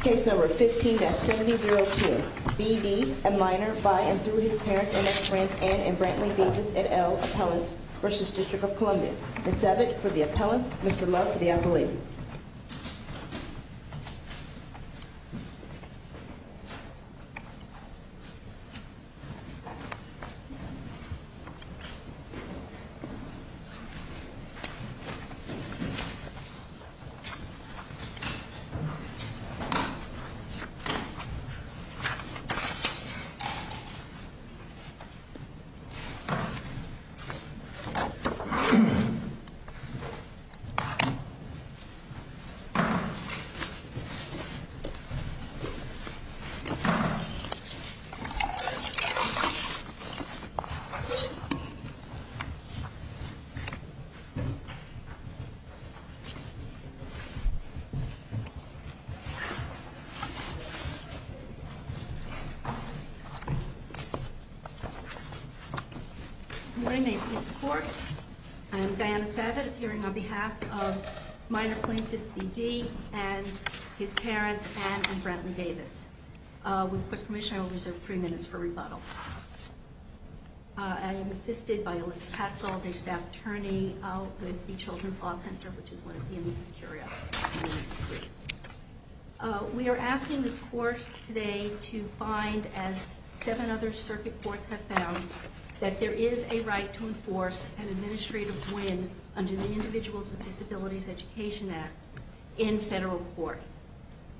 Case number 15-7002. B.D., a minor, by and through his parents, and ex-friends, Anne and Brantley Davis, et al., appellants, Russia's District of Columbia. Ms. Sebit, for the appellants. Mr. Love, for the appellate. Good morning. May it please the Court. I am Diana Sebit, appearing on behalf of minor plaintiff B.D. and his parents, Anne and Brantley Davis. With the Court's permission, I will reserve three minutes for rebuttal. I am assisted by Alyssa Patzold, a staff attorney with the Children's Law Center, which is one of the amicus curia. We are asking this Court today to find, as seven other circuit courts have found, that there is a right to enforce an administrative win under the Individuals with Disabilities Education Act in federal court.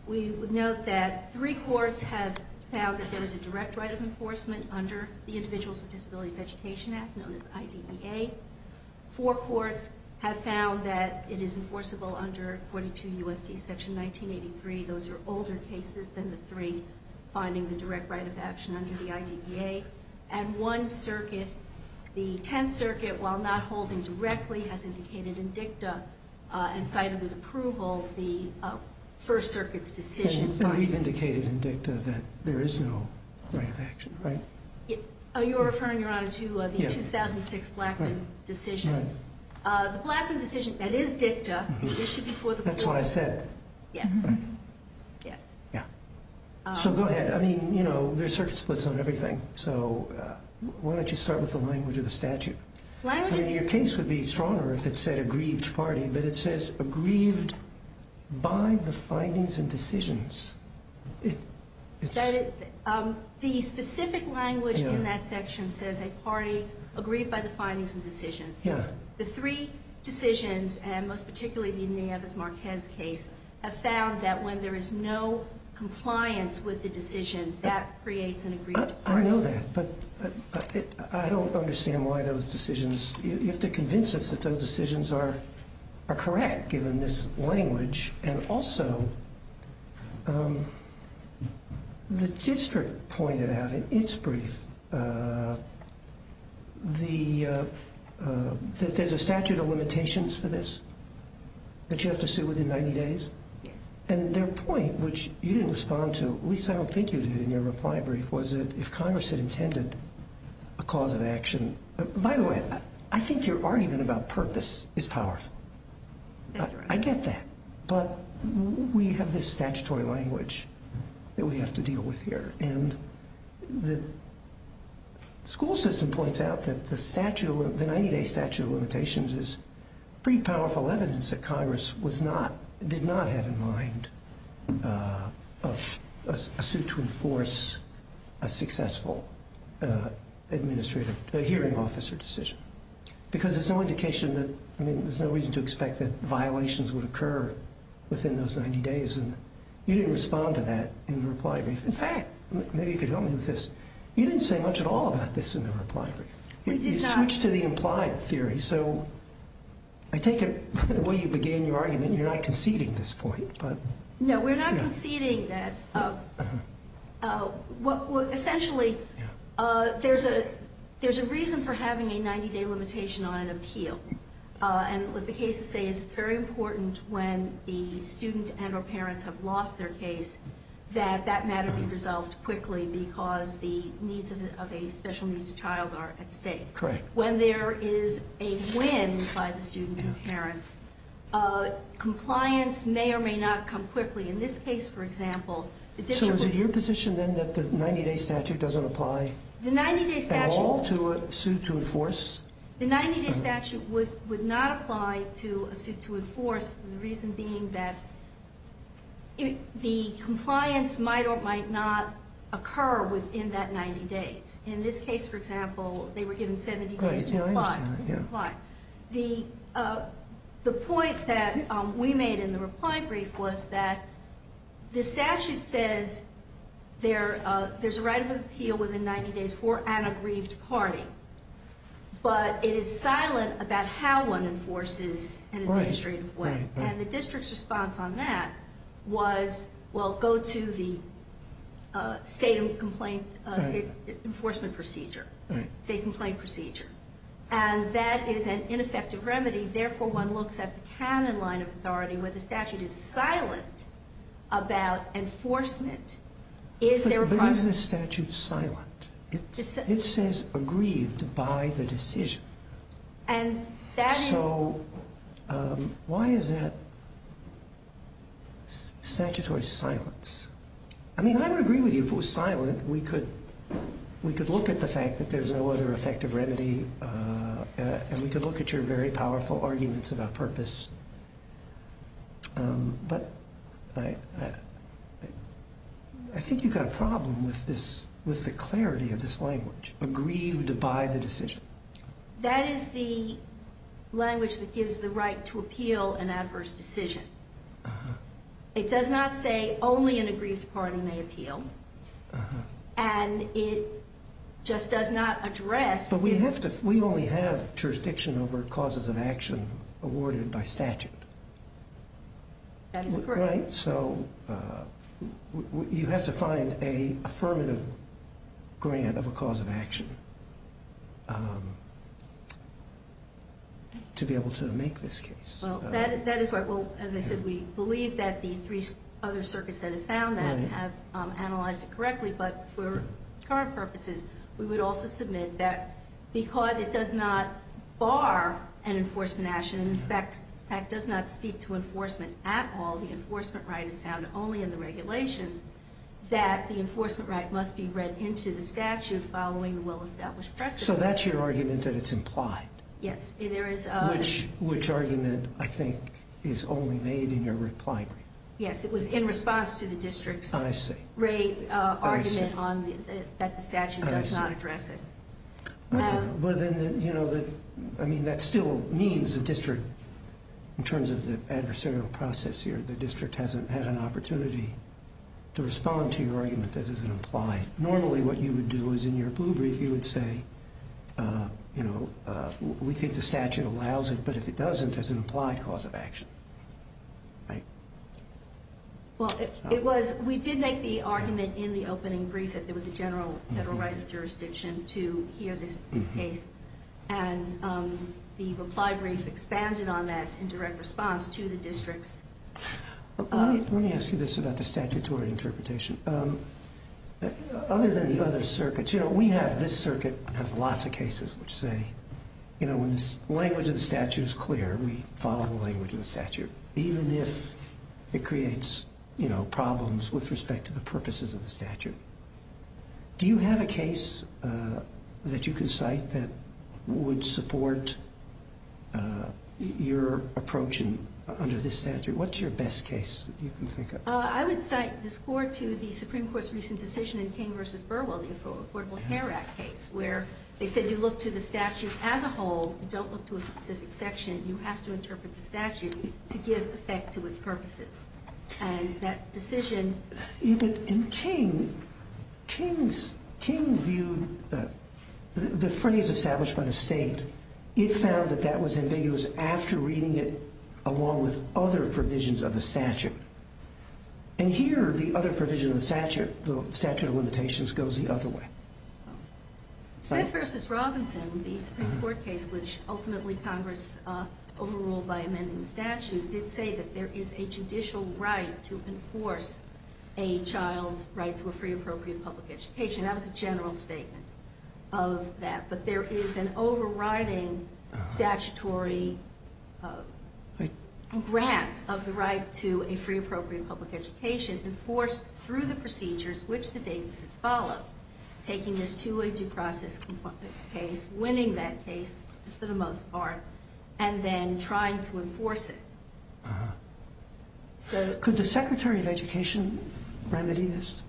We note that three courts have found that there is a direct right of enforcement under the Individuals with Disabilities Education Act, known as IDEA. Four courts have found that it is enforceable under 42 U.S.C. section 1983. Those are older cases than the three finding the direct right of action under the IDEA. And one circuit, the 10th Circuit, while not holding directly, has indicated in dicta and cited with approval the right of action, right? You're referring, Your Honor, to the 2006 Blackmun decision. The Blackmun decision, that is dicta, issued before the Court. That's what I said. Yes. So go ahead. I mean, you know, there's circuit splits on everything, so why don't you start with the language of the statute? Your case would be stronger if it said aggrieved party, but it says aggrieved by the findings and decisions. The specific language in that section says a party aggrieved by the findings and decisions. The three decisions, and most of them are correct, given this language. And also, the district pointed out in its brief that there's a statute of limitations for this, that you have to sue within 90 days? Yes. And their point, which you didn't respond to, at least I don't think you did in your reply brief, was that if Congress had intended a cause of action By the way, I think your argument about purpose is powerful. I get that, but we have this statutory language that we have to deal with here, and the school system points out that the 90-day statute of limitations is pretty powerful evidence that Congress did not have in mind a suit to enforce a successful administrative, a hearing officer decision. Because there's no indication that, I mean, there's no reason to expect that violations would occur within those 90 days, and you didn't respond to that in the reply brief. In fact, maybe you could help me with this. You didn't say much at all about this in the reply brief. You switched to the implied theory, so I take it by the way you began your argument, you're not conceding this point, but No, we're not conceding that. Essentially, there's a reason for having a 90-day limitation on an appeal. And what the cases say is it's very important when the student and or parents have lost their case that that matter be resolved quickly because the needs of a special needs child are at stake. When there is a win by the student and parents, compliance may or may not come quickly. In this case, for example, the district So is it your position then that the 90-day statute doesn't apply at all to a suit to enforce? The 90-day statute would not apply to a suit to enforce, the reason being that the compliance might or might not occur within that 90 days. In this case, for example, they were given 70 days to apply. The point that we made in the reply brief was that the statute says there's a right of appeal within 90 days for an aggrieved party, but it is silent about how one enforces in an administrative way. And the district's response on that was, well, go to the state enforcement procedure, state complaint procedure. And that is an ineffective remedy. Therefore, one looks at the canon line of authority where the statute is silent about enforcement. But is the statute silent? It says aggrieved by the decision. So why is that statutory silence? I mean, I would agree with you if it was silent, we could look at the fact that there's no other effective remedy, and we could look at your very powerful arguments about purpose. But I think you've got a problem with the clarity of this language, aggrieved by the decision. That is the language that gives the right to appeal an adverse decision. It does not say only an aggrieved party may appeal, and it just does not address... So we only have jurisdiction over causes of action awarded by statute. That is correct. Right? So you have to find an affirmative grant of a cause of action to be able to make this case. Well, that is right. Well, as I said, we believe that the three other circuits that have found that have analyzed it correctly. But for current purposes, we would also submit that because it does not bar an enforcement action and in fact does not speak to enforcement at all, the enforcement right is found only in the regulations, that the enforcement right must be read into the statute following the well-established precedent. So that's your argument that it's implied? Yes. Which I think is only made in your reply brief. Yes, it was in response to the district's argument that the statute does not address it. But then, you know, I mean, that still means the district, in terms of the adversarial process here, the district hasn't had an opportunity to respond to your argument that this is implied. Normally what you would do is in your blue brief, you would say, you know, we think the statute allows it, but if it doesn't, there's an implied cause of action. Right? Well, it was, we did make the argument in the opening brief that there was a general federal right of jurisdiction to hear this case. And the reply brief expanded on that in direct response to the district's. Let me ask you this about the statutory interpretation. Other than the other circuits, you know, we have, this circuit has lots of cases which say, you know, when the language of the statute is clear, we follow the language of the statute, even if it creates, you know, problems with respect to the purposes of the statute. Do you have a case that you can cite that would support your approach under this statute? What's your best case that you can think of? I would cite the score to the Supreme Court's recent decision in King v. Burwell, the Affordable Care Act case, where they said you look to the statute as a whole, you don't look to a specific section, you have to interpret the statute to give effect to its purposes. And that decision... Even in King, King viewed the phrase established by the state, it found that that was ambiguous after reading it along with other provisions of the statute. And here, the other provision of the statute, the statute of limitations, goes the other way. Smith v. Robinson, the Supreme Court case, which ultimately Congress overruled by amending the statute, did say that there is a judicial right to enforce a child's right to a free, appropriate public education. That was a general statement of that. But there is an overriding statutory grant of the right to a free, appropriate public education enforced through the procedures which the Davis's followed, taking this two-way due process case, winning that case for the most part, and then trying to enforce it. Could the Secretary of Education remedy this?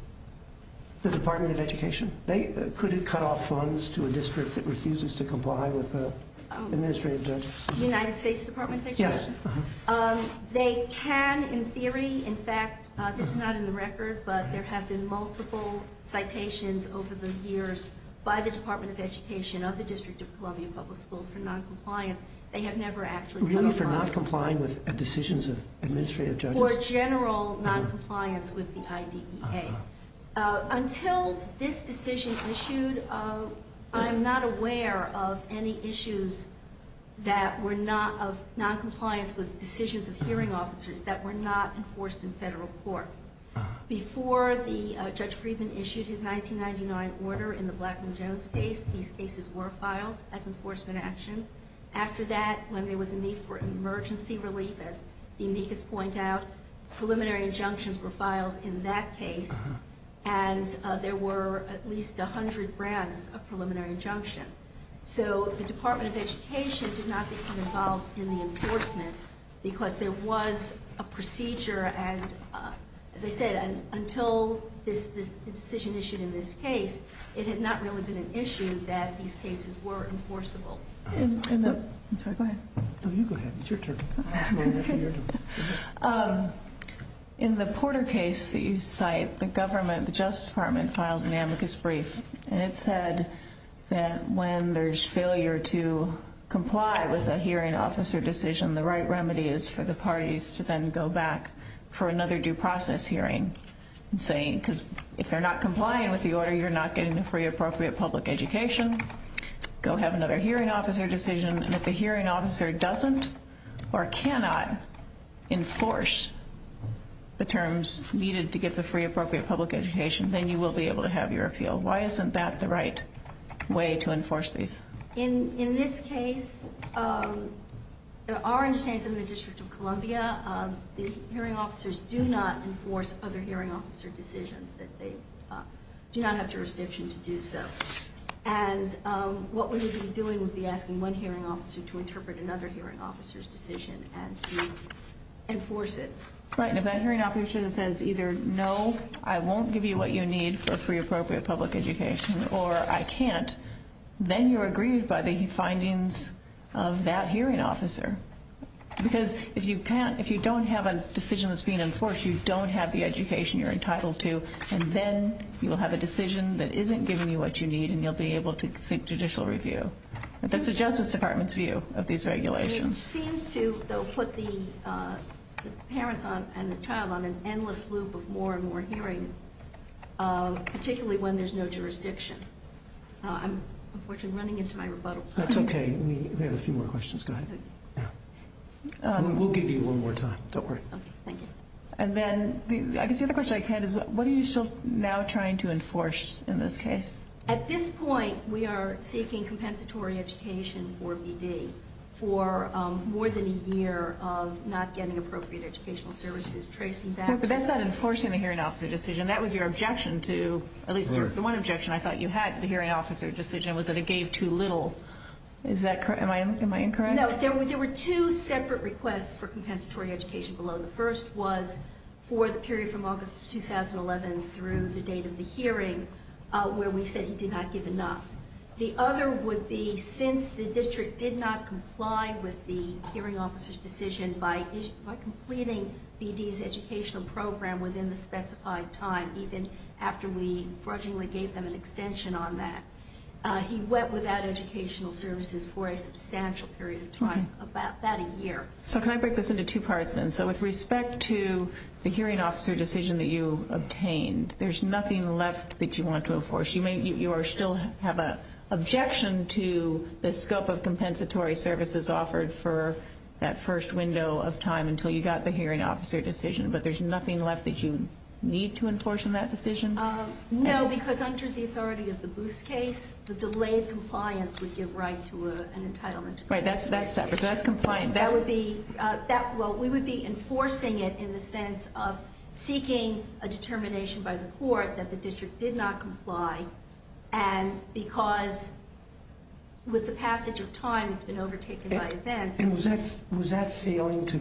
The Department of Education? Could it cut off funds to a district that refuses to comply with the administrative judges? The United States Department of Education? Yes. They can, in theory. In fact, this is not in the record, but there have been multiple citations over the years by the Department of Education of the District of Columbia Public Schools for noncompliance. They have never actually cut off funds. To comply with decisions of administrative judges? For general noncompliance with the IDEA. Until this decision issued, I'm not aware of any issues that were not of noncompliance with decisions of hearing officers that were not enforced in federal court. Before Judge Friedman issued his 1999 order in the Blackman Jones case, these cases were filed as enforcement actions. After that, when there was a need for emergency relief, as the amicus point out, preliminary injunctions were filed in that case, and there were at least 100 grants of preliminary injunctions. So the Department of Education did not become involved in the enforcement because there was a procedure, and as I said, until the decision issued in this case, it had not really been an issue that these cases were enforceable. Go ahead. No, you go ahead. It's your turn. In the Porter case that you cite, the government, the Justice Department, filed an amicus brief, and it said that when there's failure to comply with a hearing officer decision, the right remedy is for the parties to then go back for another due process hearing. Because if they're not complying with the order, you're not getting the free appropriate public education, go have another hearing officer decision, and if the hearing officer doesn't or cannot enforce the terms needed to get the free appropriate public education, then you will be able to have your appeal. Why isn't that the right way to enforce these? In this case, there are understandings in the District of Columbia, the hearing officers do not enforce other hearing officer decisions, that they do not have jurisdiction to do so. And what we would be doing would be asking one hearing officer to interpret another hearing officer's decision and to enforce it. Right, and if that hearing officer says either no, I won't give you what you need for free appropriate public education, or I can't, then you're aggrieved by the findings of that hearing officer. Because if you don't have a decision that's being enforced, you don't have the education you're entitled to, and then you'll have a decision that isn't giving you what you need, and you'll be able to seek judicial review. That's the Justice Department's view of these regulations. It seems to, though, put the parents and the child on an endless loop of more and more hearings, particularly when there's no jurisdiction. I'm unfortunately running into my rebuttal time. That's okay, we have a few more questions. Go ahead. We'll give you one more time, don't worry. Okay, thank you. And then, I guess the other question I had is, what are you still now trying to enforce in this case? At this point, we are seeking compensatory education for BD for more than a year of not getting appropriate educational services, tracing back to... No, but that's not enforcing the hearing officer decision. That was your objection to, at least the one objection I thought you had to the hearing officer decision was that it gave too little. Is that correct? Am I incorrect? No, there were two separate requests for compensatory education below. The first was for the period from August of 2011 through the date of the hearing, where we said he did not give enough. The other would be, since the district did not comply with the hearing officer's decision by completing BD's educational program within the specified time, even after we grudgingly gave them an extension on that, he went without educational services for a substantial period of time, about a year. So, can I break this into two parts then? So, with respect to the hearing officer decision that you obtained, there's nothing left that you want to enforce. You still have an objection to the scope of compensatory services offered for that first window of time until you got the hearing officer decision, but there's nothing left that you need to enforce in that decision? No, because under the authority of the Boos case, the delayed compliance would give right to an entitlement to compensation. Right, that's separate, so that's compliant. That would be, well, we would be enforcing it in the sense of seeking a determination by the court that the district did not comply, and because with the passage of time, it's been overtaken by events. And was that failing to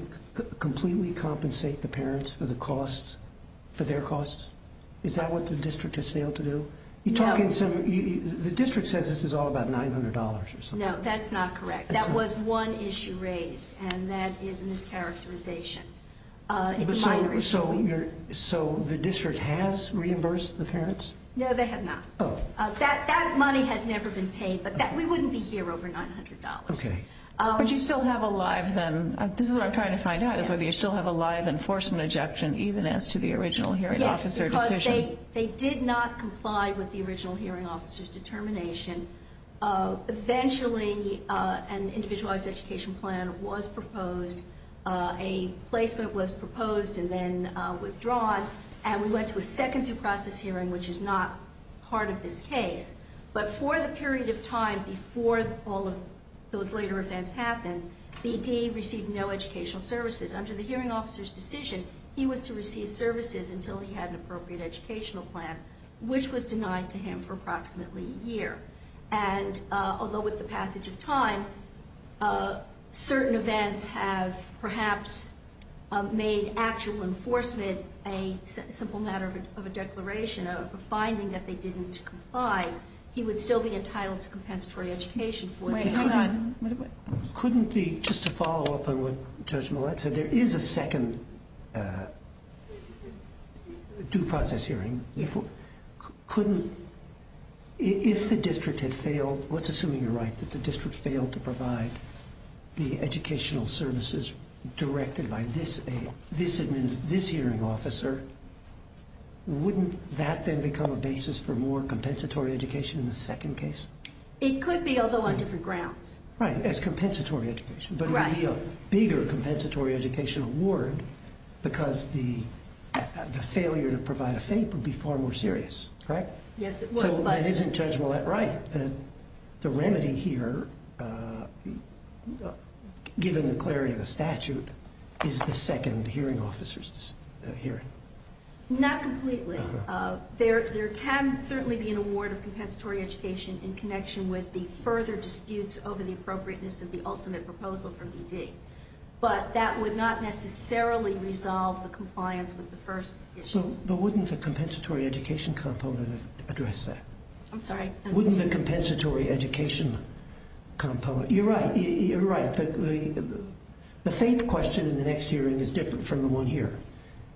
completely compensate the parents for the costs, for their costs? Is that what the district has failed to do? No. The district says this is all about $900 or something. No, that's not correct. That was one issue raised, and that is a mischaracterization. It's a minor issue. So, the district has reimbursed the parents? No, they have not. Oh. That money has never been paid, but we wouldn't be here over $900. Okay. But you still have a live, then, this is what I'm trying to find out, is whether you still have a live enforcement objection even as to the original hearing officer decision? They did not comply with the original hearing officer's determination. Eventually, an individualized education plan was proposed. A placement was proposed and then withdrawn, and we went to a second due process hearing, which is not part of this case. But for the period of time before all of those later events happened, BD received no educational services. Under the hearing officer's decision, he was to receive services until he had an appropriate educational plan, which was denied to him for approximately a year. And although with the passage of time, certain events have perhaps made actual enforcement a simple matter of a declaration, of a finding that they didn't comply, he would still be entitled to compensatory education for that. Wait, hang on. Couldn't the, just to follow up on what Judge Millett said, there is a second due process hearing. Yes. Couldn't, if the district had failed, let's assume you're right, that the district failed to provide the educational services directed by this hearing officer, wouldn't that then become a basis for more compensatory education in the second case? It could be, although on different grounds. Right, as compensatory education. Right. But it would be a bigger compensatory education award because the failure to provide a FAPE would be far more serious, right? Yes, it would. So that isn't Judge Millett right? The remedy here, given the clarity of the statute, is the second hearing officer's hearing. Not completely. There can certainly be an award of compensatory education in connection with the further disputes over the appropriateness of the ultimate proposal for DD. But that would not necessarily resolve the compliance with the first issue. But wouldn't the compensatory education component address that? I'm sorry? Wouldn't the compensatory education component, you're right, you're right, the FAPE question in the next hearing is different from the one here.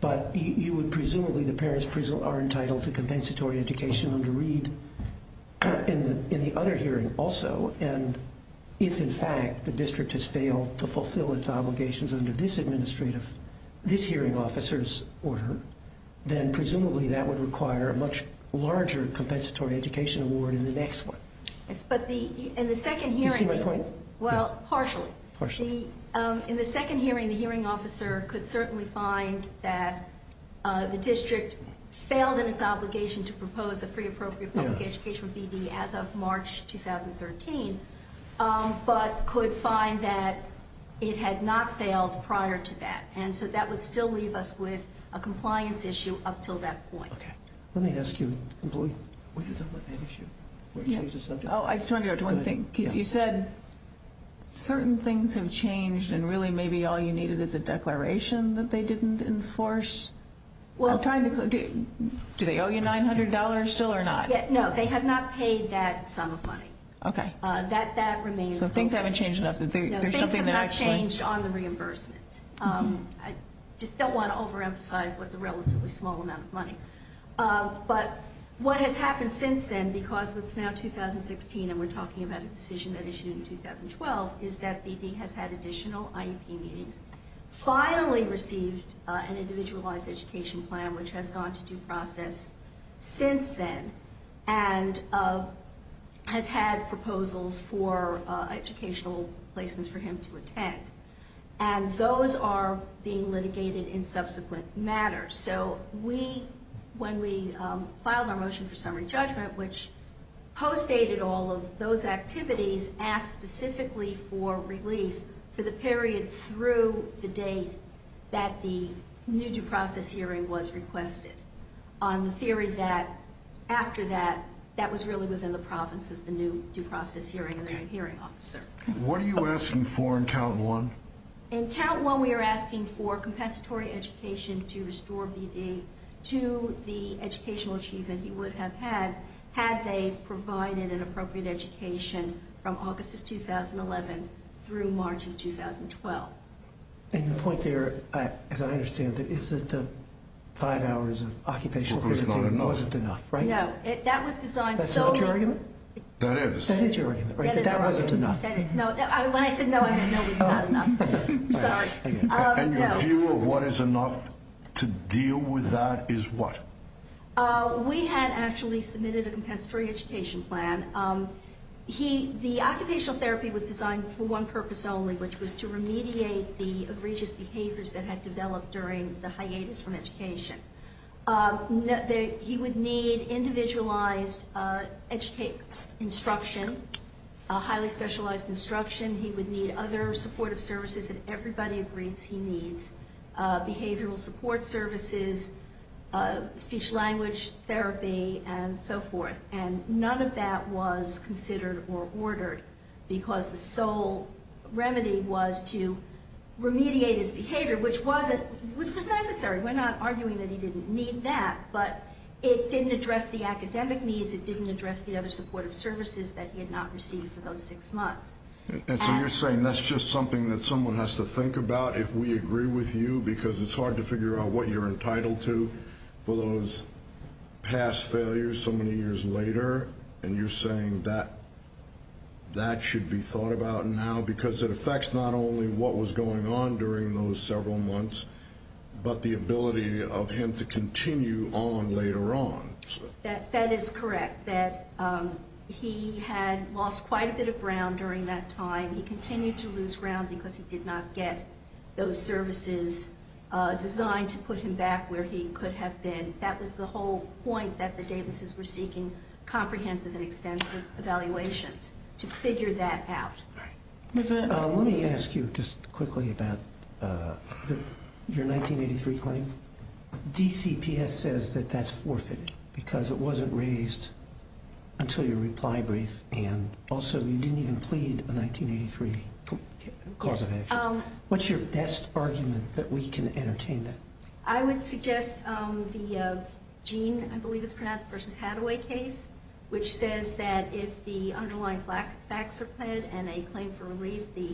But you would presumably, the parents are entitled to compensatory education under Reed in the other hearing also. And if in fact the district has failed to fulfill its obligations under this hearing officer's order, then presumably that would require a much larger compensatory education award in the next one. Yes, but in the second hearing... Do you see my point? Well, partially. Partially. In the second hearing, the hearing officer could certainly find that the district failed in its obligation to propose a free appropriate public education for DD as of March 2013. But could find that it had not failed prior to that. And so that would still leave us with a compliance issue up until that point. Okay. Let me ask you, employee, what you thought about that issue. I just wanted to go to one thing. You said certain things have changed and really maybe all you needed is a declaration that they didn't enforce. Do they owe you $900 still or not? No, they have not paid that sum of money. Okay. That remains... So things haven't changed enough. No, things have not changed on the reimbursement. I just don't want to overemphasize what's a relatively small amount of money. But what has happened since then, because it's now 2016 and we're talking about a decision that issued in 2012, is that DD has had additional IEP meetings, finally received an individualized education plan, which has gone to due process since then, and has had proposals for educational placements for him to attend. And those are being litigated in subsequent matters. So when we filed our motion for summary judgment, which postdated all of those activities, asked specifically for relief for the period through the date that the new due process hearing was requested, on the theory that after that, that was really within the province of the new due process hearing and the new hearing officer. What are you asking for in count one? In count one, we are asking for compensatory education to restore BD to the educational achievement he would have had, had they provided an appropriate education from August of 2011 through March of 2012. And the point there, as I understand it, is that five hours of occupational therapy wasn't enough, right? No. That was designed so... That's not your argument? That is. That is your argument, right? That wasn't enough. When I said no, I meant no was not enough. Sorry. And your view of what is enough to deal with that is what? We had actually submitted a compensatory education plan. The occupational therapy was designed for one purpose only, which was to remediate the egregious behaviors that had developed during the hiatus from education. He would need individualized instruction, highly specialized instruction. He would need other supportive services that everybody agrees he needs, behavioral support services, speech-language therapy, and so forth. And none of that was considered or ordered because the sole remedy was to remediate his behavior, which was necessary. We're not arguing that he didn't need that, but it didn't address the academic needs. It didn't address the other supportive services that he had not received for those six months. And so you're saying that's just something that someone has to think about if we agree with you, because it's hard to figure out what you're entitled to for those past failures so many years later, and you're saying that that should be thought about now because it affects not only what was going on during those several months but the ability of him to continue on later on. That is correct, that he had lost quite a bit of ground during that time. He continued to lose ground because he did not get those services designed to put him back where he could have been. That was the whole point that the Davises were seeking comprehensive and extensive evaluations, to figure that out. Let me ask you just quickly about your 1983 claim. DCPS says that that's forfeited because it wasn't raised until your reply brief, and also you didn't even plead a 1983 cause of action. What's your best argument that we can entertain that? I would suggest the Gene, I believe it's pronounced, versus Hathaway case, which says that if the underlying facts are pled and a claim for relief, the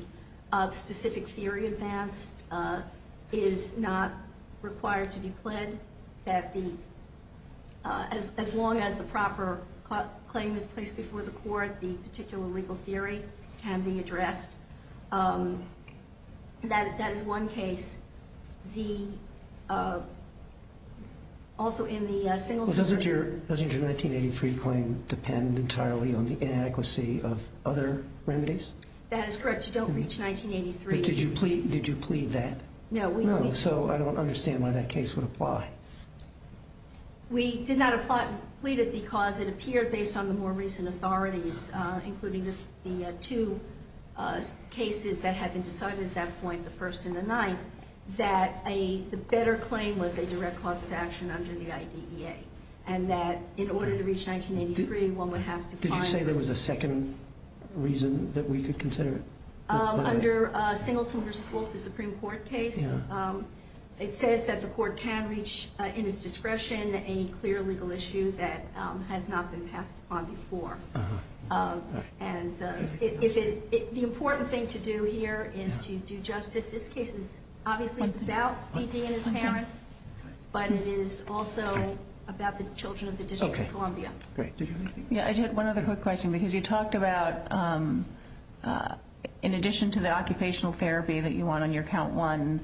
specific theory advanced is not required to be pled as long as the proper claim is placed before the court, the particular legal theory can be addressed. That is one case. Does your 1983 claim depend entirely on the inadequacy of other remedies? That is correct, you don't reach 1983. Did you plead that? No. So I don't understand why that case would apply. We did not plead it because it appeared based on the more recent authorities, including the two cases that had been decided at that point, the first and the ninth, that the better claim was a direct cause of action under the IDEA, and that in order to reach 1983, one would have to file it. Did you say there was a second reason that we could consider it? Under Singleton versus Wolfe, the Supreme Court case, it says that the court can reach in its discretion a clear legal issue that has not been passed upon before. And the important thing to do here is to do justice. This case is obviously about P.D. and his parents, but it is also about the children of the District of Columbia. Okay, great. Did you have anything? Yeah, I did. One other quick question, because you talked about in addition to the occupational therapy that you want on your count one,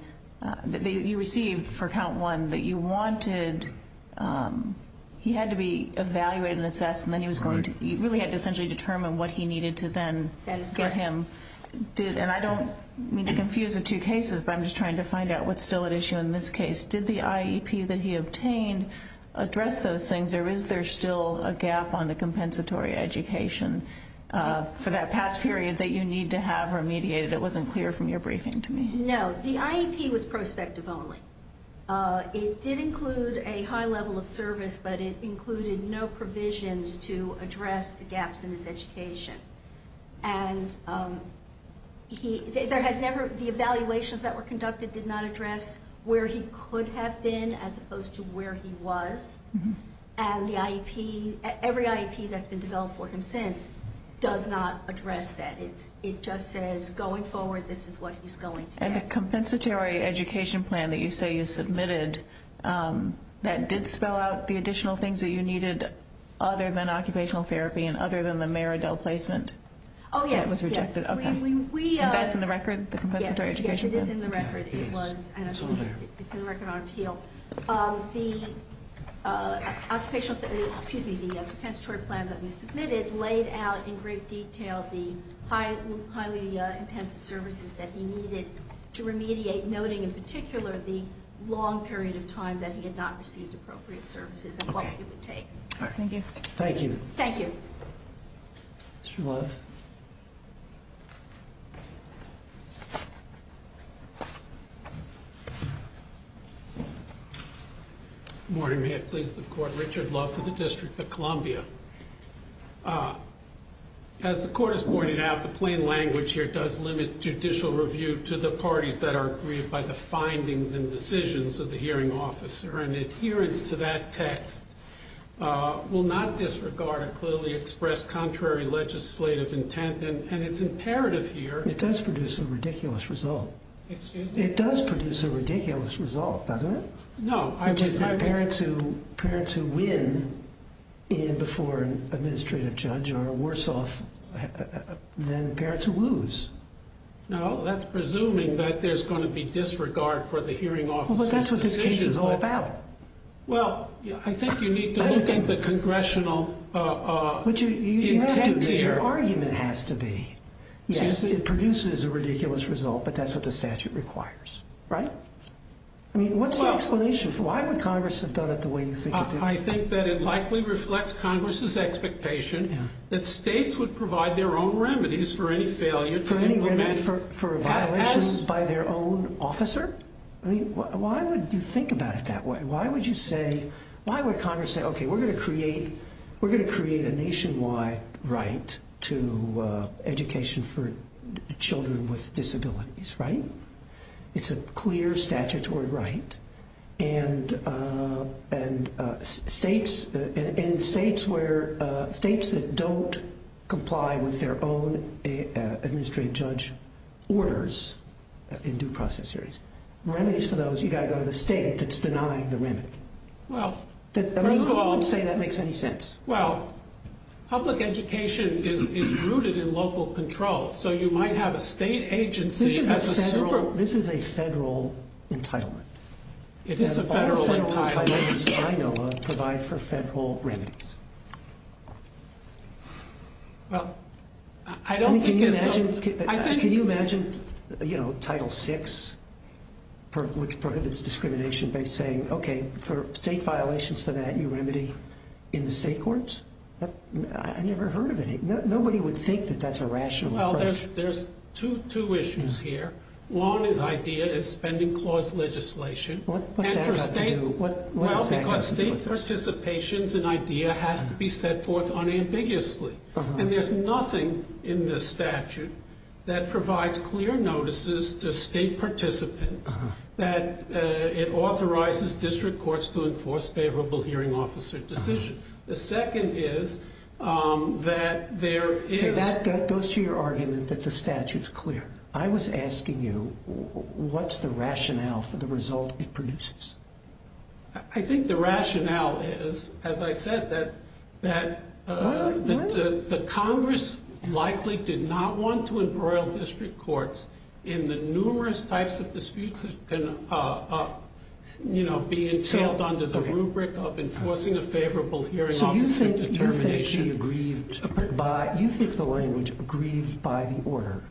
that you received for count one, that you wanted, he had to be evaluated and assessed, and then he really had to essentially determine what he needed to then get him. And I don't mean to confuse the two cases, but I'm just trying to find out what's still at issue in this case. Did the IEP that he obtained address those things, or is there still a gap on the compensatory education for that past period that you need to have remediated? It wasn't clear from your briefing to me. No, the IEP was prospective only. It did include a high level of service, but it included no provisions to address the gaps in his education. And the evaluations that were conducted did not address where he could have been as opposed to where he was, and every IEP that's been developed for him since does not address that. It just says going forward, this is what he's going to get. And the compensatory education plan that you say you submitted, that did spell out the additional things that you needed other than occupational therapy and other than the Maridel placement? Oh, yes, yes. And that's in the record, the compensatory education plan? Yes, it is in the record. It's all there. It's in the record on appeal. The occupational, excuse me, the compensatory plan that we submitted laid out in great detail the highly intensive services that he needed to remediate, noting in particular the long period of time that he had not received appropriate services and what it would take. Okay. Thank you. Thank you. Thank you. Mr. Love. Good morning. May it please the Court, Richard Love for the District of Columbia. As the Court has pointed out, the plain language here does limit judicial review to the parties that are aggrieved by the findings and decisions of the hearing officer, and adherence to that text will not disregard or clearly express contrary legislative intent, and it's imperative here. It does produce a ridiculous result. Excuse me? It does produce a ridiculous result, doesn't it? No. Which is that parents who win before an administrative judge are worse off than parents who lose. No, that's presuming that there's going to be disregard for the hearing officer's decisions. Well, but that's what this case is all about. Well, I think you need to look at the congressional intent here. But you have to. Your argument has to be, yes, it produces a ridiculous result, but that's what the statute requires, right? I mean, what's the explanation? Why would Congress have done it the way you think it did? I think that it likely reflects Congress's expectation that states would provide their own remedies for any failure to implement. For violations by their own officer? I mean, why would you think about it that way? Why would Congress say, okay, we're going to create a nationwide right to education for children with disabilities, right? It's a clear statutory right. And states that don't comply with their own administrative judge orders in due process areas, remedies for those, you've got to go to the state that's denying the remedy. I mean, you don't say that makes any sense. Well, public education is rooted in local control. So you might have a state agency as a super- This is a federal entitlement. It is a federal entitlement. Federal entitlements, I know of, provide for federal remedies. Well, I don't think it's- I mean, can you imagine, you know, Title VI, which prohibits discrimination by saying, okay, for state violations for that, you remedy in the state courts? I never heard of any. Nobody would think that that's a rational approach. Well, there's two issues here. One is idea is spending clause legislation. What's that got to do with this? Well, because state participations in idea has to be set forth unambiguously. And there's nothing in this statute that provides clear notices to state participants that it authorizes district courts to enforce favorable hearing officer decisions. The second is that there is- That goes to your argument that the statute's clear. I was asking you, what's the rationale for the result it produces? I think the rationale is, as I said, that the Congress likely did not want to embroil district courts in the numerous types of disputes that can, you know, be entailed under the rubric of enforcing a favorable hearing officer determination. So you think the language, grieved by the order,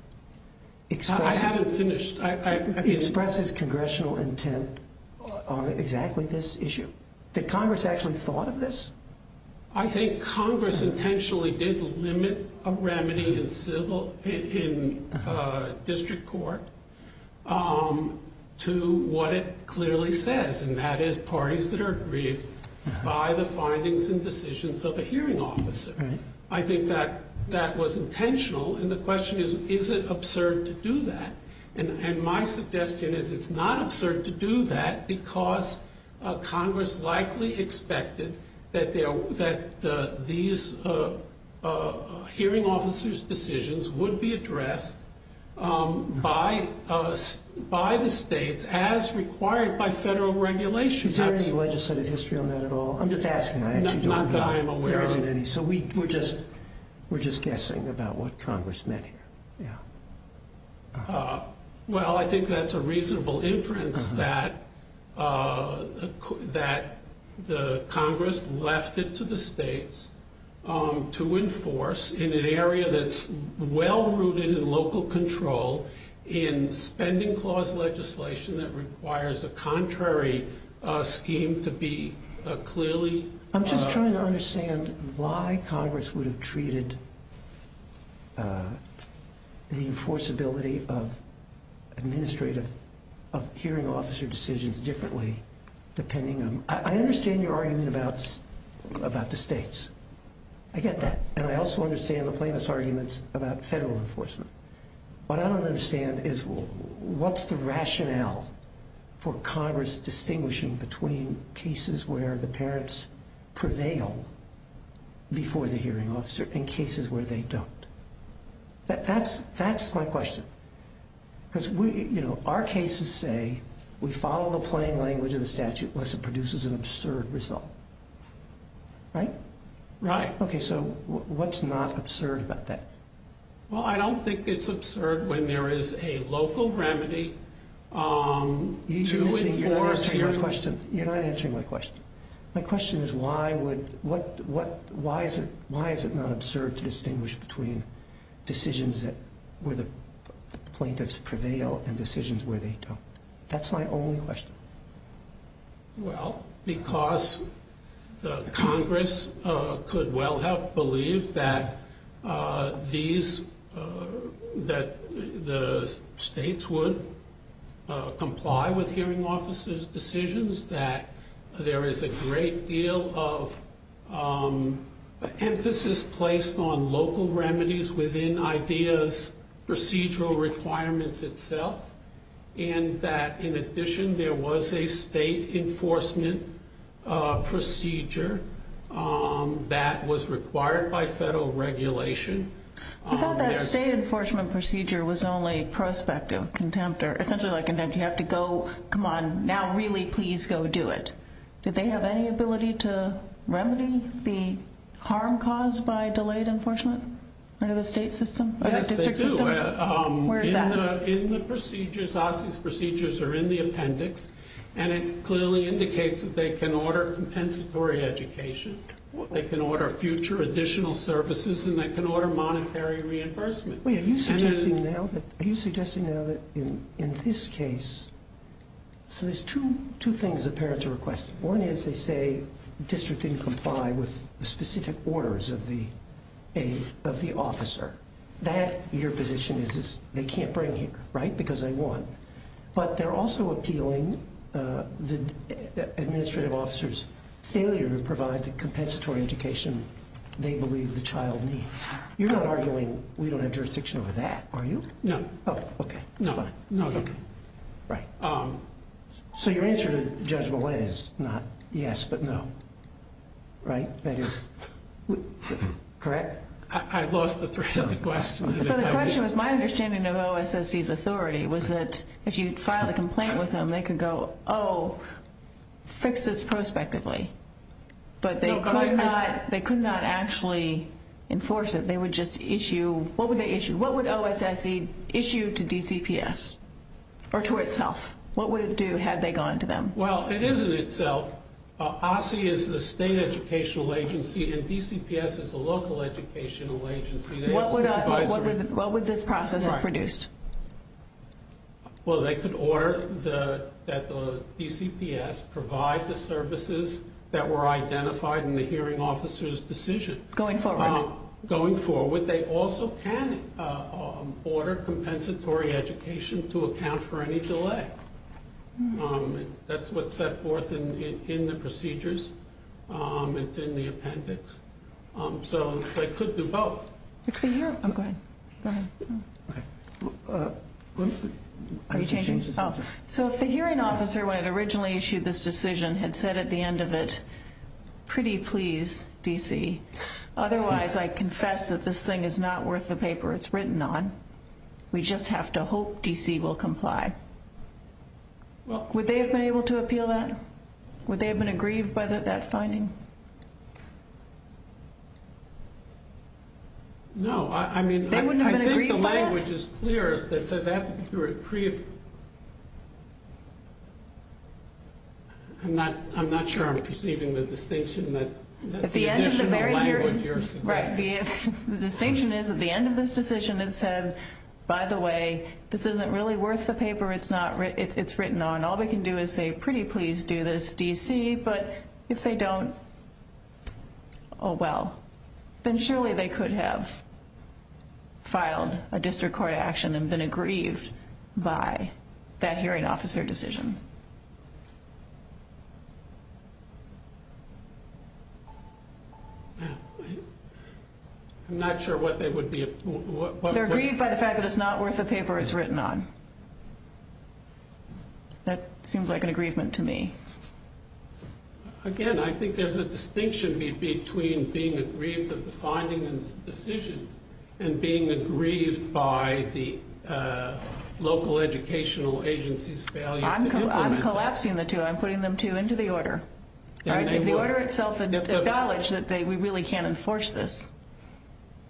expresses- I haven't finished. Expresses congressional intent on exactly this issue? Did Congress actually thought of this? I think Congress intentionally did limit a remedy in district court to what it clearly says, and that is parties that are grieved by the findings and decisions of a hearing officer. I think that was intentional, and the question is, is it absurd to do that? And my suggestion is it's not absurd to do that because Congress likely expected that these hearing officers' decisions would be addressed by the states as required by federal regulations. Is there any legislative history on that at all? I'm just asking. Not that I'm aware of any. So we're just guessing about what Congress meant here. Yeah. Well, I think that's a reasonable inference that the Congress left it to the states to enforce in an area that's well-rooted in local control in spending clause legislation that requires a contrary scheme to be clearly- the enforceability of hearing officer decisions differently depending on- I understand your argument about the states. I get that. And I also understand the plaintiff's arguments about federal enforcement. What I don't understand is what's the rationale for Congress distinguishing between cases where the parents prevail before the hearing officer and cases where they don't? That's my question. Because our cases say we follow the plain language of the statute unless it produces an absurd result. Right? Right. Okay, so what's not absurd about that? Well, I don't think it's absurd when there is a local remedy to enforce hearing- You're not answering my question. My question is why is it not absurd to distinguish between decisions where the plaintiffs prevail and decisions where they don't? That's my only question. Well, because Congress could well have believed that the states would comply with hearing officers' decisions, that there is a great deal of emphasis placed on local remedies within IDEA's procedural requirements itself, and that in addition there was a state enforcement procedure that was required by federal regulation. I thought that state enforcement procedure was only prospective contempt, or essentially contempt. You have to go, come on, now really please go do it. Do they have any ability to remedy the harm caused by delayed enforcement under the state system? Yes, they do. Where is that? In the procedures, OSCE's procedures are in the appendix, and it clearly indicates that they can order compensatory education, they can order future additional services, and they can order monetary reimbursement. Are you suggesting now that in this case, so there's two things the parents are requesting. One is they say the district didn't comply with the specific orders of the officer. That, your position is, is they can't bring him here, right, because they want. But they're also appealing the administrative officer's failure to provide the compensatory education they believe the child needs. You're not arguing we don't have jurisdiction over that, are you? No. Oh, okay, fine. No, no. Right. So your answer to Judge Millett is not yes, but no, right? That is correct? I lost the thread of the question. So the question was my understanding of OSCE's authority was that if you filed a complaint with them, they could go, oh, fix this prospectively. But they could not actually enforce it. They would just issue, what would they issue? What would OSCE issue to DCPS or to itself? What would it do had they gone to them? Well, it is in itself. OSCE is the state educational agency, and DCPS is the local educational agency. What would this process have produced? Well, they could order that the DCPS provide the services that were identified in the hearing officer's decision. Going forward. Going forward. They also can order compensatory education to account for any delay. That's what's set forth in the procedures. It's in the appendix. So they could do both. Go ahead. Are you changing? So if the hearing officer, when it originally issued this decision, had said at the end of it, pretty please, DC. Otherwise, I confess that this thing is not worth the paper it's written on. We just have to hope DC will comply. Would they have been able to appeal that? Would they have been aggrieved by that finding? No. They wouldn't have been aggrieved by it? I mean, I think the language is clear. It says that you're a pre. I'm not sure I'm perceiving the distinction that the additional language you're suggesting. Right. The distinction is at the end of this decision it said, by the way, this isn't really worth the paper it's written on. All they can do is say, pretty please do this, DC. But if they don't, oh, well. Then surely they could have filed a district court action and been aggrieved by that hearing officer decision. I'm not sure what they would be. They're aggrieved by the fact that it's not worth the paper it's written on. That seems like an aggrievement to me. Again, I think there's a distinction between being aggrieved at the finding and decisions and being aggrieved by the local educational agency's failure to implement that. I'm collapsing the two. I'm putting them two into the order. If the order itself had acknowledged that we really can't enforce this,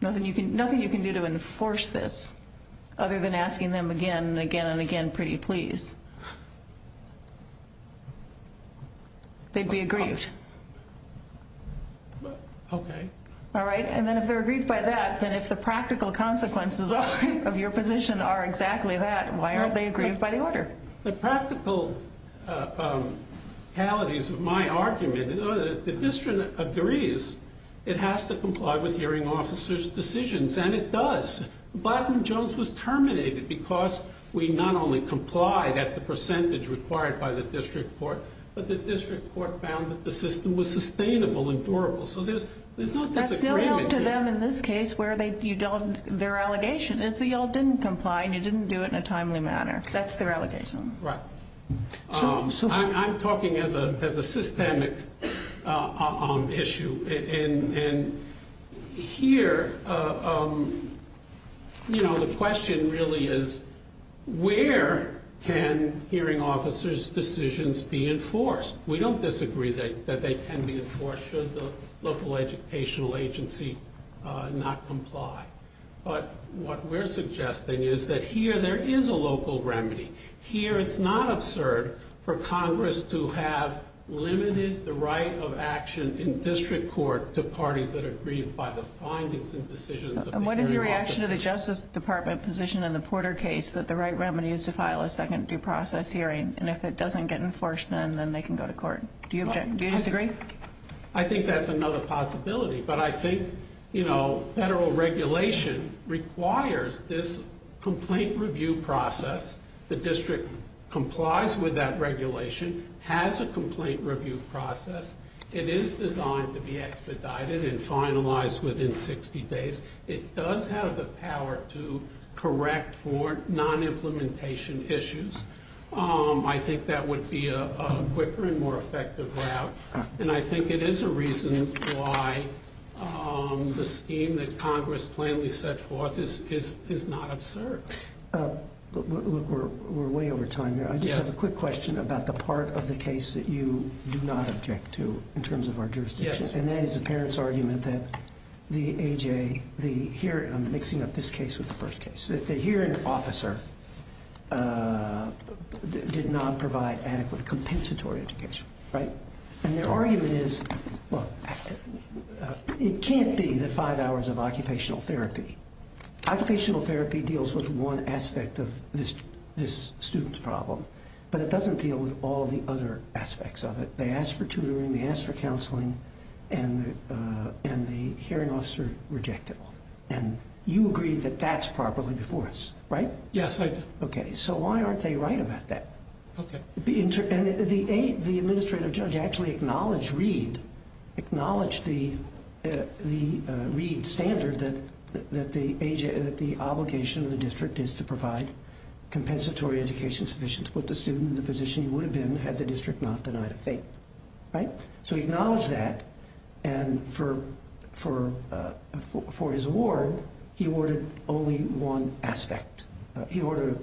nothing you can do to enforce this other than asking them again and again and again pretty please, they'd be aggrieved. Okay. All right. And then if they're aggrieved by that, then if the practical consequences of your position are exactly that, why aren't they aggrieved by the order? The practicalities of my argument, the district agrees it has to comply with hearing officers' decisions, and it does. Blackman Jones was terminated because we not only complied at the percentage required by the district court, but the district court found that the system was sustainable and durable. So there's not disagreement here. That's still held to them in this case where their allegation is that you all didn't comply and you didn't do it in a timely manner. That's their allegation. Right. I'm talking as a systemic issue. And here, you know, the question really is where can hearing officers' decisions be enforced? We don't disagree that they can be enforced should the local educational agency not comply. But what we're suggesting is that here there is a local remedy. Here it's not absurd for Congress to have limited the right of action in district court to parties that are aggrieved by the findings and decisions of the hearing officers. And what is your reaction to the Justice Department position in the Porter case that the right remedy is to file a second due process hearing, and if it doesn't get enforced then they can go to court? Do you disagree? I think that's another possibility. But I think, you know, federal regulation requires this complaint review process. The district complies with that regulation, has a complaint review process. It is designed to be expedited and finalized within 60 days. It does have the power to correct for non-implementation issues. I think that would be a quicker and more effective route. And I think it is a reason why the scheme that Congress plainly set forth is not absurd. Look, we're way over time here. I just have a quick question about the part of the case that you do not object to in terms of our jurisdiction, and that is the parents' argument that the hearing officer did not provide adequate compensatory education. And their argument is, look, it can't be the five hours of occupational therapy. Occupational therapy deals with one aspect of this student's problem, but it doesn't deal with all the other aspects of it. They asked for tutoring, they asked for counseling, and the hearing officer rejected them. And you agree that that's properly enforced, right? Yes, I do. Okay, so why aren't they right about that? Okay. The administrative judge actually acknowledged Reed, acknowledged the Reed standard that the obligation of the district is to provide compensatory education sufficient to put the student in the position he would have been had the district not denied a fate. So he acknowledged that, and for his award, he awarded only one aspect. He awarded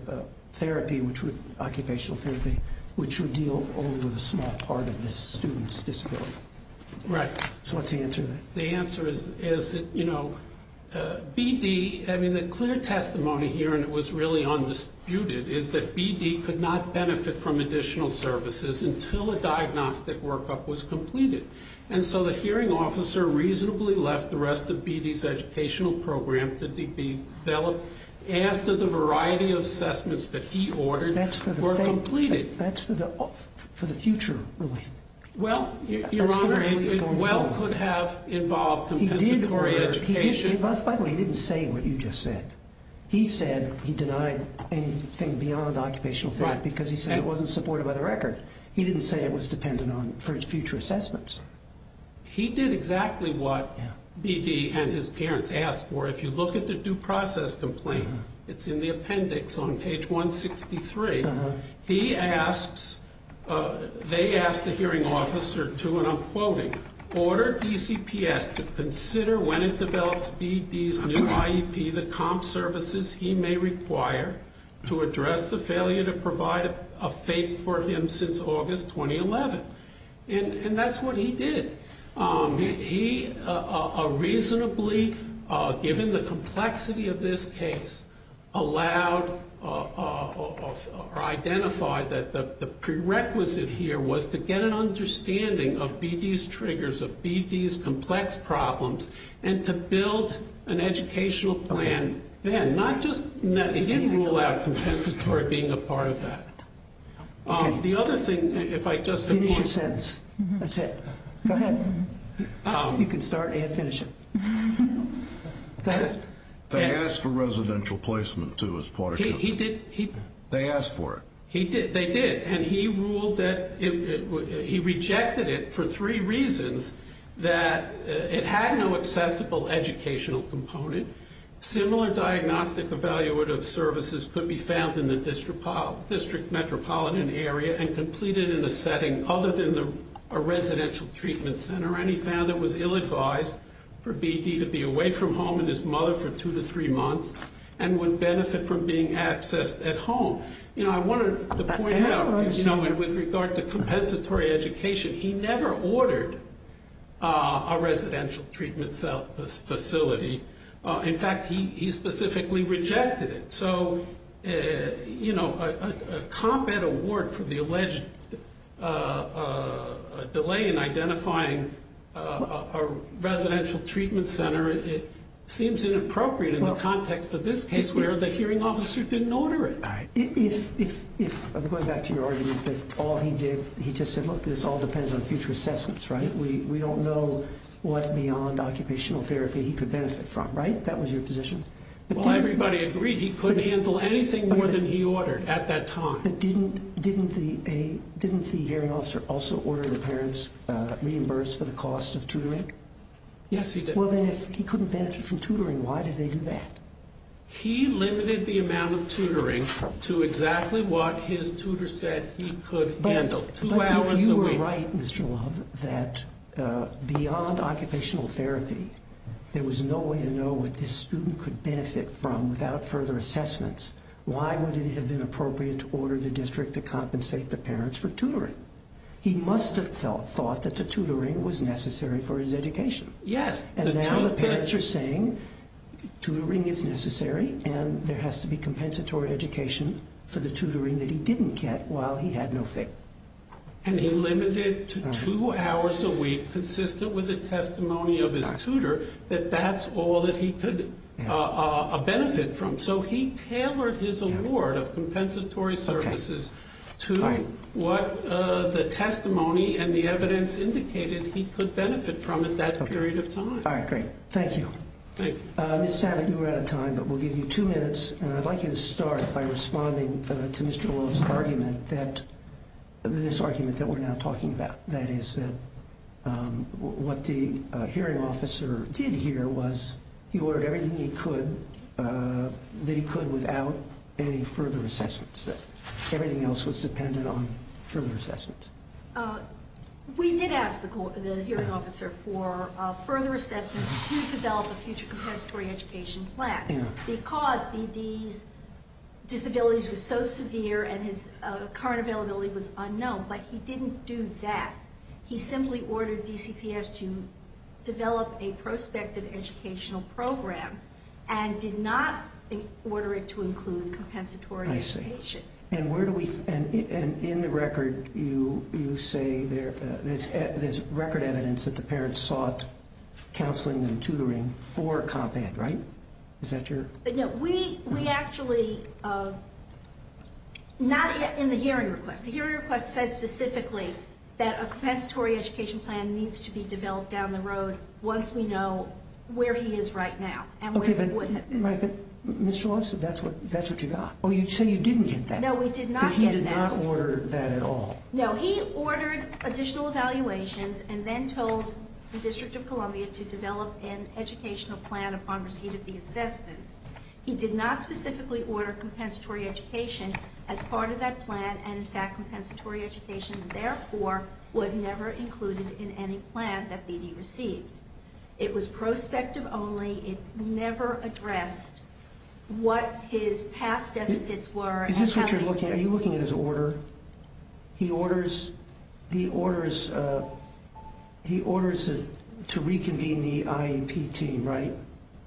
occupational therapy, which would deal only with a small part of this student's disability. Right. So what's the answer to that? The answer is that BD, I mean, the clear testimony here, and it was really undisputed, is that BD could not benefit from additional services until a diagnostic workup was completed. And so the hearing officer reasonably left the rest of BD's educational program to be developed after the variety of assessments that he ordered were completed. That's for the future relief. Well, Your Honor, it well could have involved compensatory education. He didn't say what you just said. He said he denied anything beyond occupational therapy because he said it wasn't supported by the record. He didn't say it was dependent on future assessments. He did exactly what BD and his parents asked for. If you look at the due process complaint, it's in the appendix on page 163. They asked the hearing officer to, and I'm quoting, order DCPS to consider when it develops BD's new IEP the comp services he may require to address the failure to provide a fate for him since August 2011. And that's what he did. He reasonably, given the complexity of this case, identified that the prerequisite here was to get an understanding of BD's triggers, of BD's complex problems, and to build an educational plan then. He didn't rule out compensatory being a part of that. The other thing, if I could just finish your sentence. That's it. Go ahead. You can start and finish it. Go ahead. They asked for residential placement, too, as part of counseling. He did. They asked for it. They did. And he ruled that he rejected it for three reasons. That it had no accessible educational component. Similar diagnostic evaluative services could be found in the district metropolitan area and completed in a setting other than a residential treatment center. And he found it was ill-advised for BD to be away from home and his mother for two to three months and would benefit from being accessed at home. I wanted to point out, with regard to compensatory education, he never ordered a residential treatment facility. In fact, he specifically rejected it. So, you know, a combat award for the alleged delay in identifying a residential treatment center, it seems inappropriate in the context of this case where the hearing officer didn't order it. If I'm going back to your argument that all he did, he just said, look, this all depends on future assessments, right? We don't know what beyond occupational therapy he could benefit from, right? That was your position? Well, everybody agreed he couldn't handle anything more than he ordered at that time. But didn't the hearing officer also order the parents reimbursed for the cost of tutoring? Yes, he did. Well, then if he couldn't benefit from tutoring, why did they do that? He limited the amount of tutoring to exactly what his tutor said he could handle, two hours a week. But if you were right, Mr. Love, that beyond occupational therapy, there was no way to know what this student could benefit from without further assessments, why would it have been appropriate to order the district to compensate the parents for tutoring? He must have thought that the tutoring was necessary for his education. Yes. And now the parents are saying tutoring is necessary, and there has to be compensatory education for the tutoring that he didn't get while he had no fit. And he limited it to two hours a week, consistent with the testimony of his tutor, that that's all that he could benefit from. So he tailored his award of compensatory services to what the testimony and the evidence indicated he could benefit from at that period of time. All right, great. Thank you. Thank you. Ms. Savage, we're out of time, but we'll give you two minutes, and I'd like you to start by responding to Mr. Love's argument that this argument that we're now talking about, that is that what the hearing officer did here was he ordered everything he could that he could without any further assessments, that everything else was dependent on further assessments. We did ask the hearing officer for further assessments to develop a future compensatory education plan because B.D.'s disabilities were so severe and his current availability was unknown, but he didn't do that. He simply ordered DCPS to develop a prospective educational program and did not order it to include compensatory education. And where do we – and in the record you say there's record evidence that the parents sought counseling and tutoring for Comp Ed, right? Is that your – No, we actually – not in the hearing request. The hearing request says specifically that a compensatory education plan needs to be developed down the road once we know where he is right now and where he wouldn't have been. Right, but Mr. Love said that's what you got. Oh, you say you didn't get that. No, we did not get that. That he did not order that at all. No, he ordered additional evaluations and then told the District of Columbia to develop an educational plan upon receipt of the assessments. He did not specifically order compensatory education as part of that plan, and in fact compensatory education therefore was never included in any plan that B.D. received. It was prospective only. It never addressed what his past deficits were. Is this what you're looking at? Are you looking at his order? He orders to reconvene the IEP team, right?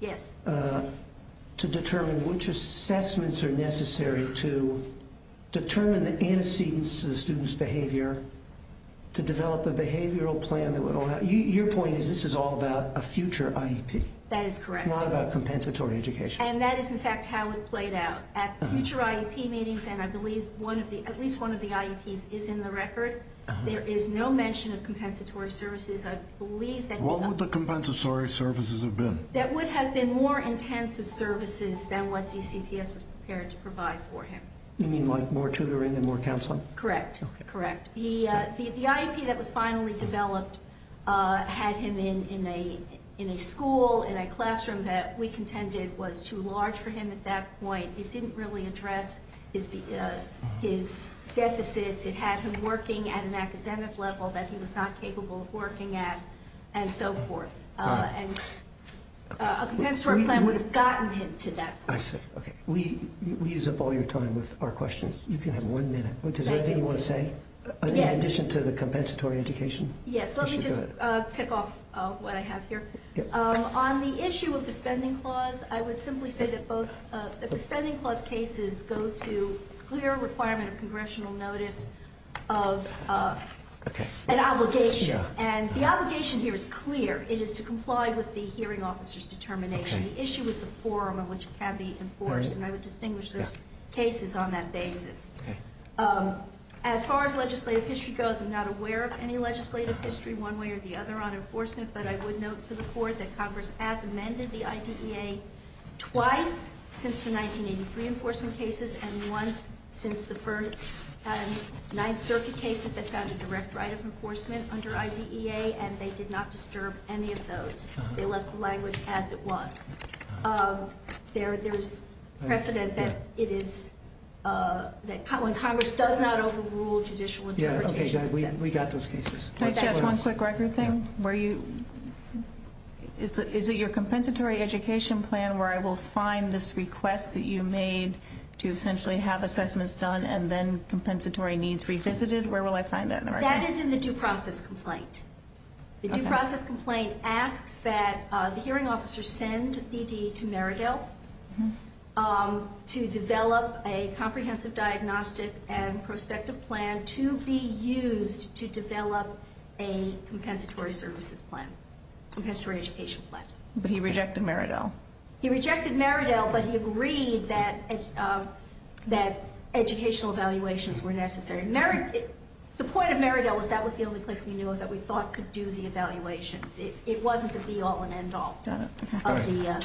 Yes. To determine which assessments are necessary to determine the antecedents to the student's behavior, to develop a behavioral plan that would – Your point is this is all about a future IEP. That is correct. Not about compensatory education. And that is in fact how it played out. At future IEP meetings, and I believe at least one of the IEPs is in the record, there is no mention of compensatory services. I believe that – What would the compensatory services have been? That would have been more intensive services than what DCPS was prepared to provide for him. You mean like more tutoring and more counseling? Correct, correct. The IEP that was finally developed had him in a school, in a classroom that we contended was too large for him at that point. It didn't really address his deficits. It had him working at an academic level that he was not capable of working at and so forth. And a compensatory plan would have gotten him to that point. I see. Okay. We use up all your time with our questions. You can have one minute. Is there anything you want to say? Yes. In addition to the compensatory education? Yes. Let me just tick off what I have here. On the issue of the spending clause, I would simply say that the spending clause cases go to clear requirement of congressional notice of an obligation. And the obligation here is clear. It is to comply with the hearing officer's determination. The issue is the form in which it can be enforced. And I would distinguish those cases on that basis. Okay. As far as legislative history goes, I'm not aware of any legislative history one way or the other on enforcement, but I would note to the Court that Congress has amended the IDEA twice since the 1983 enforcement cases and once since the 9th Circuit cases that found a direct right of enforcement under IDEA, and they did not disturb any of those. They left the language as it was. There is precedent that Congress does not overrule judicial interpretations. Okay. We got those cases. Can I ask one quick record thing? Is it your compensatory education plan where I will find this request that you made to essentially have assessments done and then compensatory needs revisited? Where will I find that in the record? That is in the due process complaint. The due process complaint asks that the hearing officer send BD to Meridell to develop a comprehensive diagnostic and prospective plan to be used to develop a compensatory services plan, compensatory education plan. But he rejected Meridell. He rejected Meridell, but he agreed that educational evaluations were necessary. The point of Meridell was that was the only place we knew of that we thought could do the evaluations. It wasn't the be-all and end-all. Got it.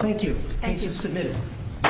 Thank you. Case is submitted.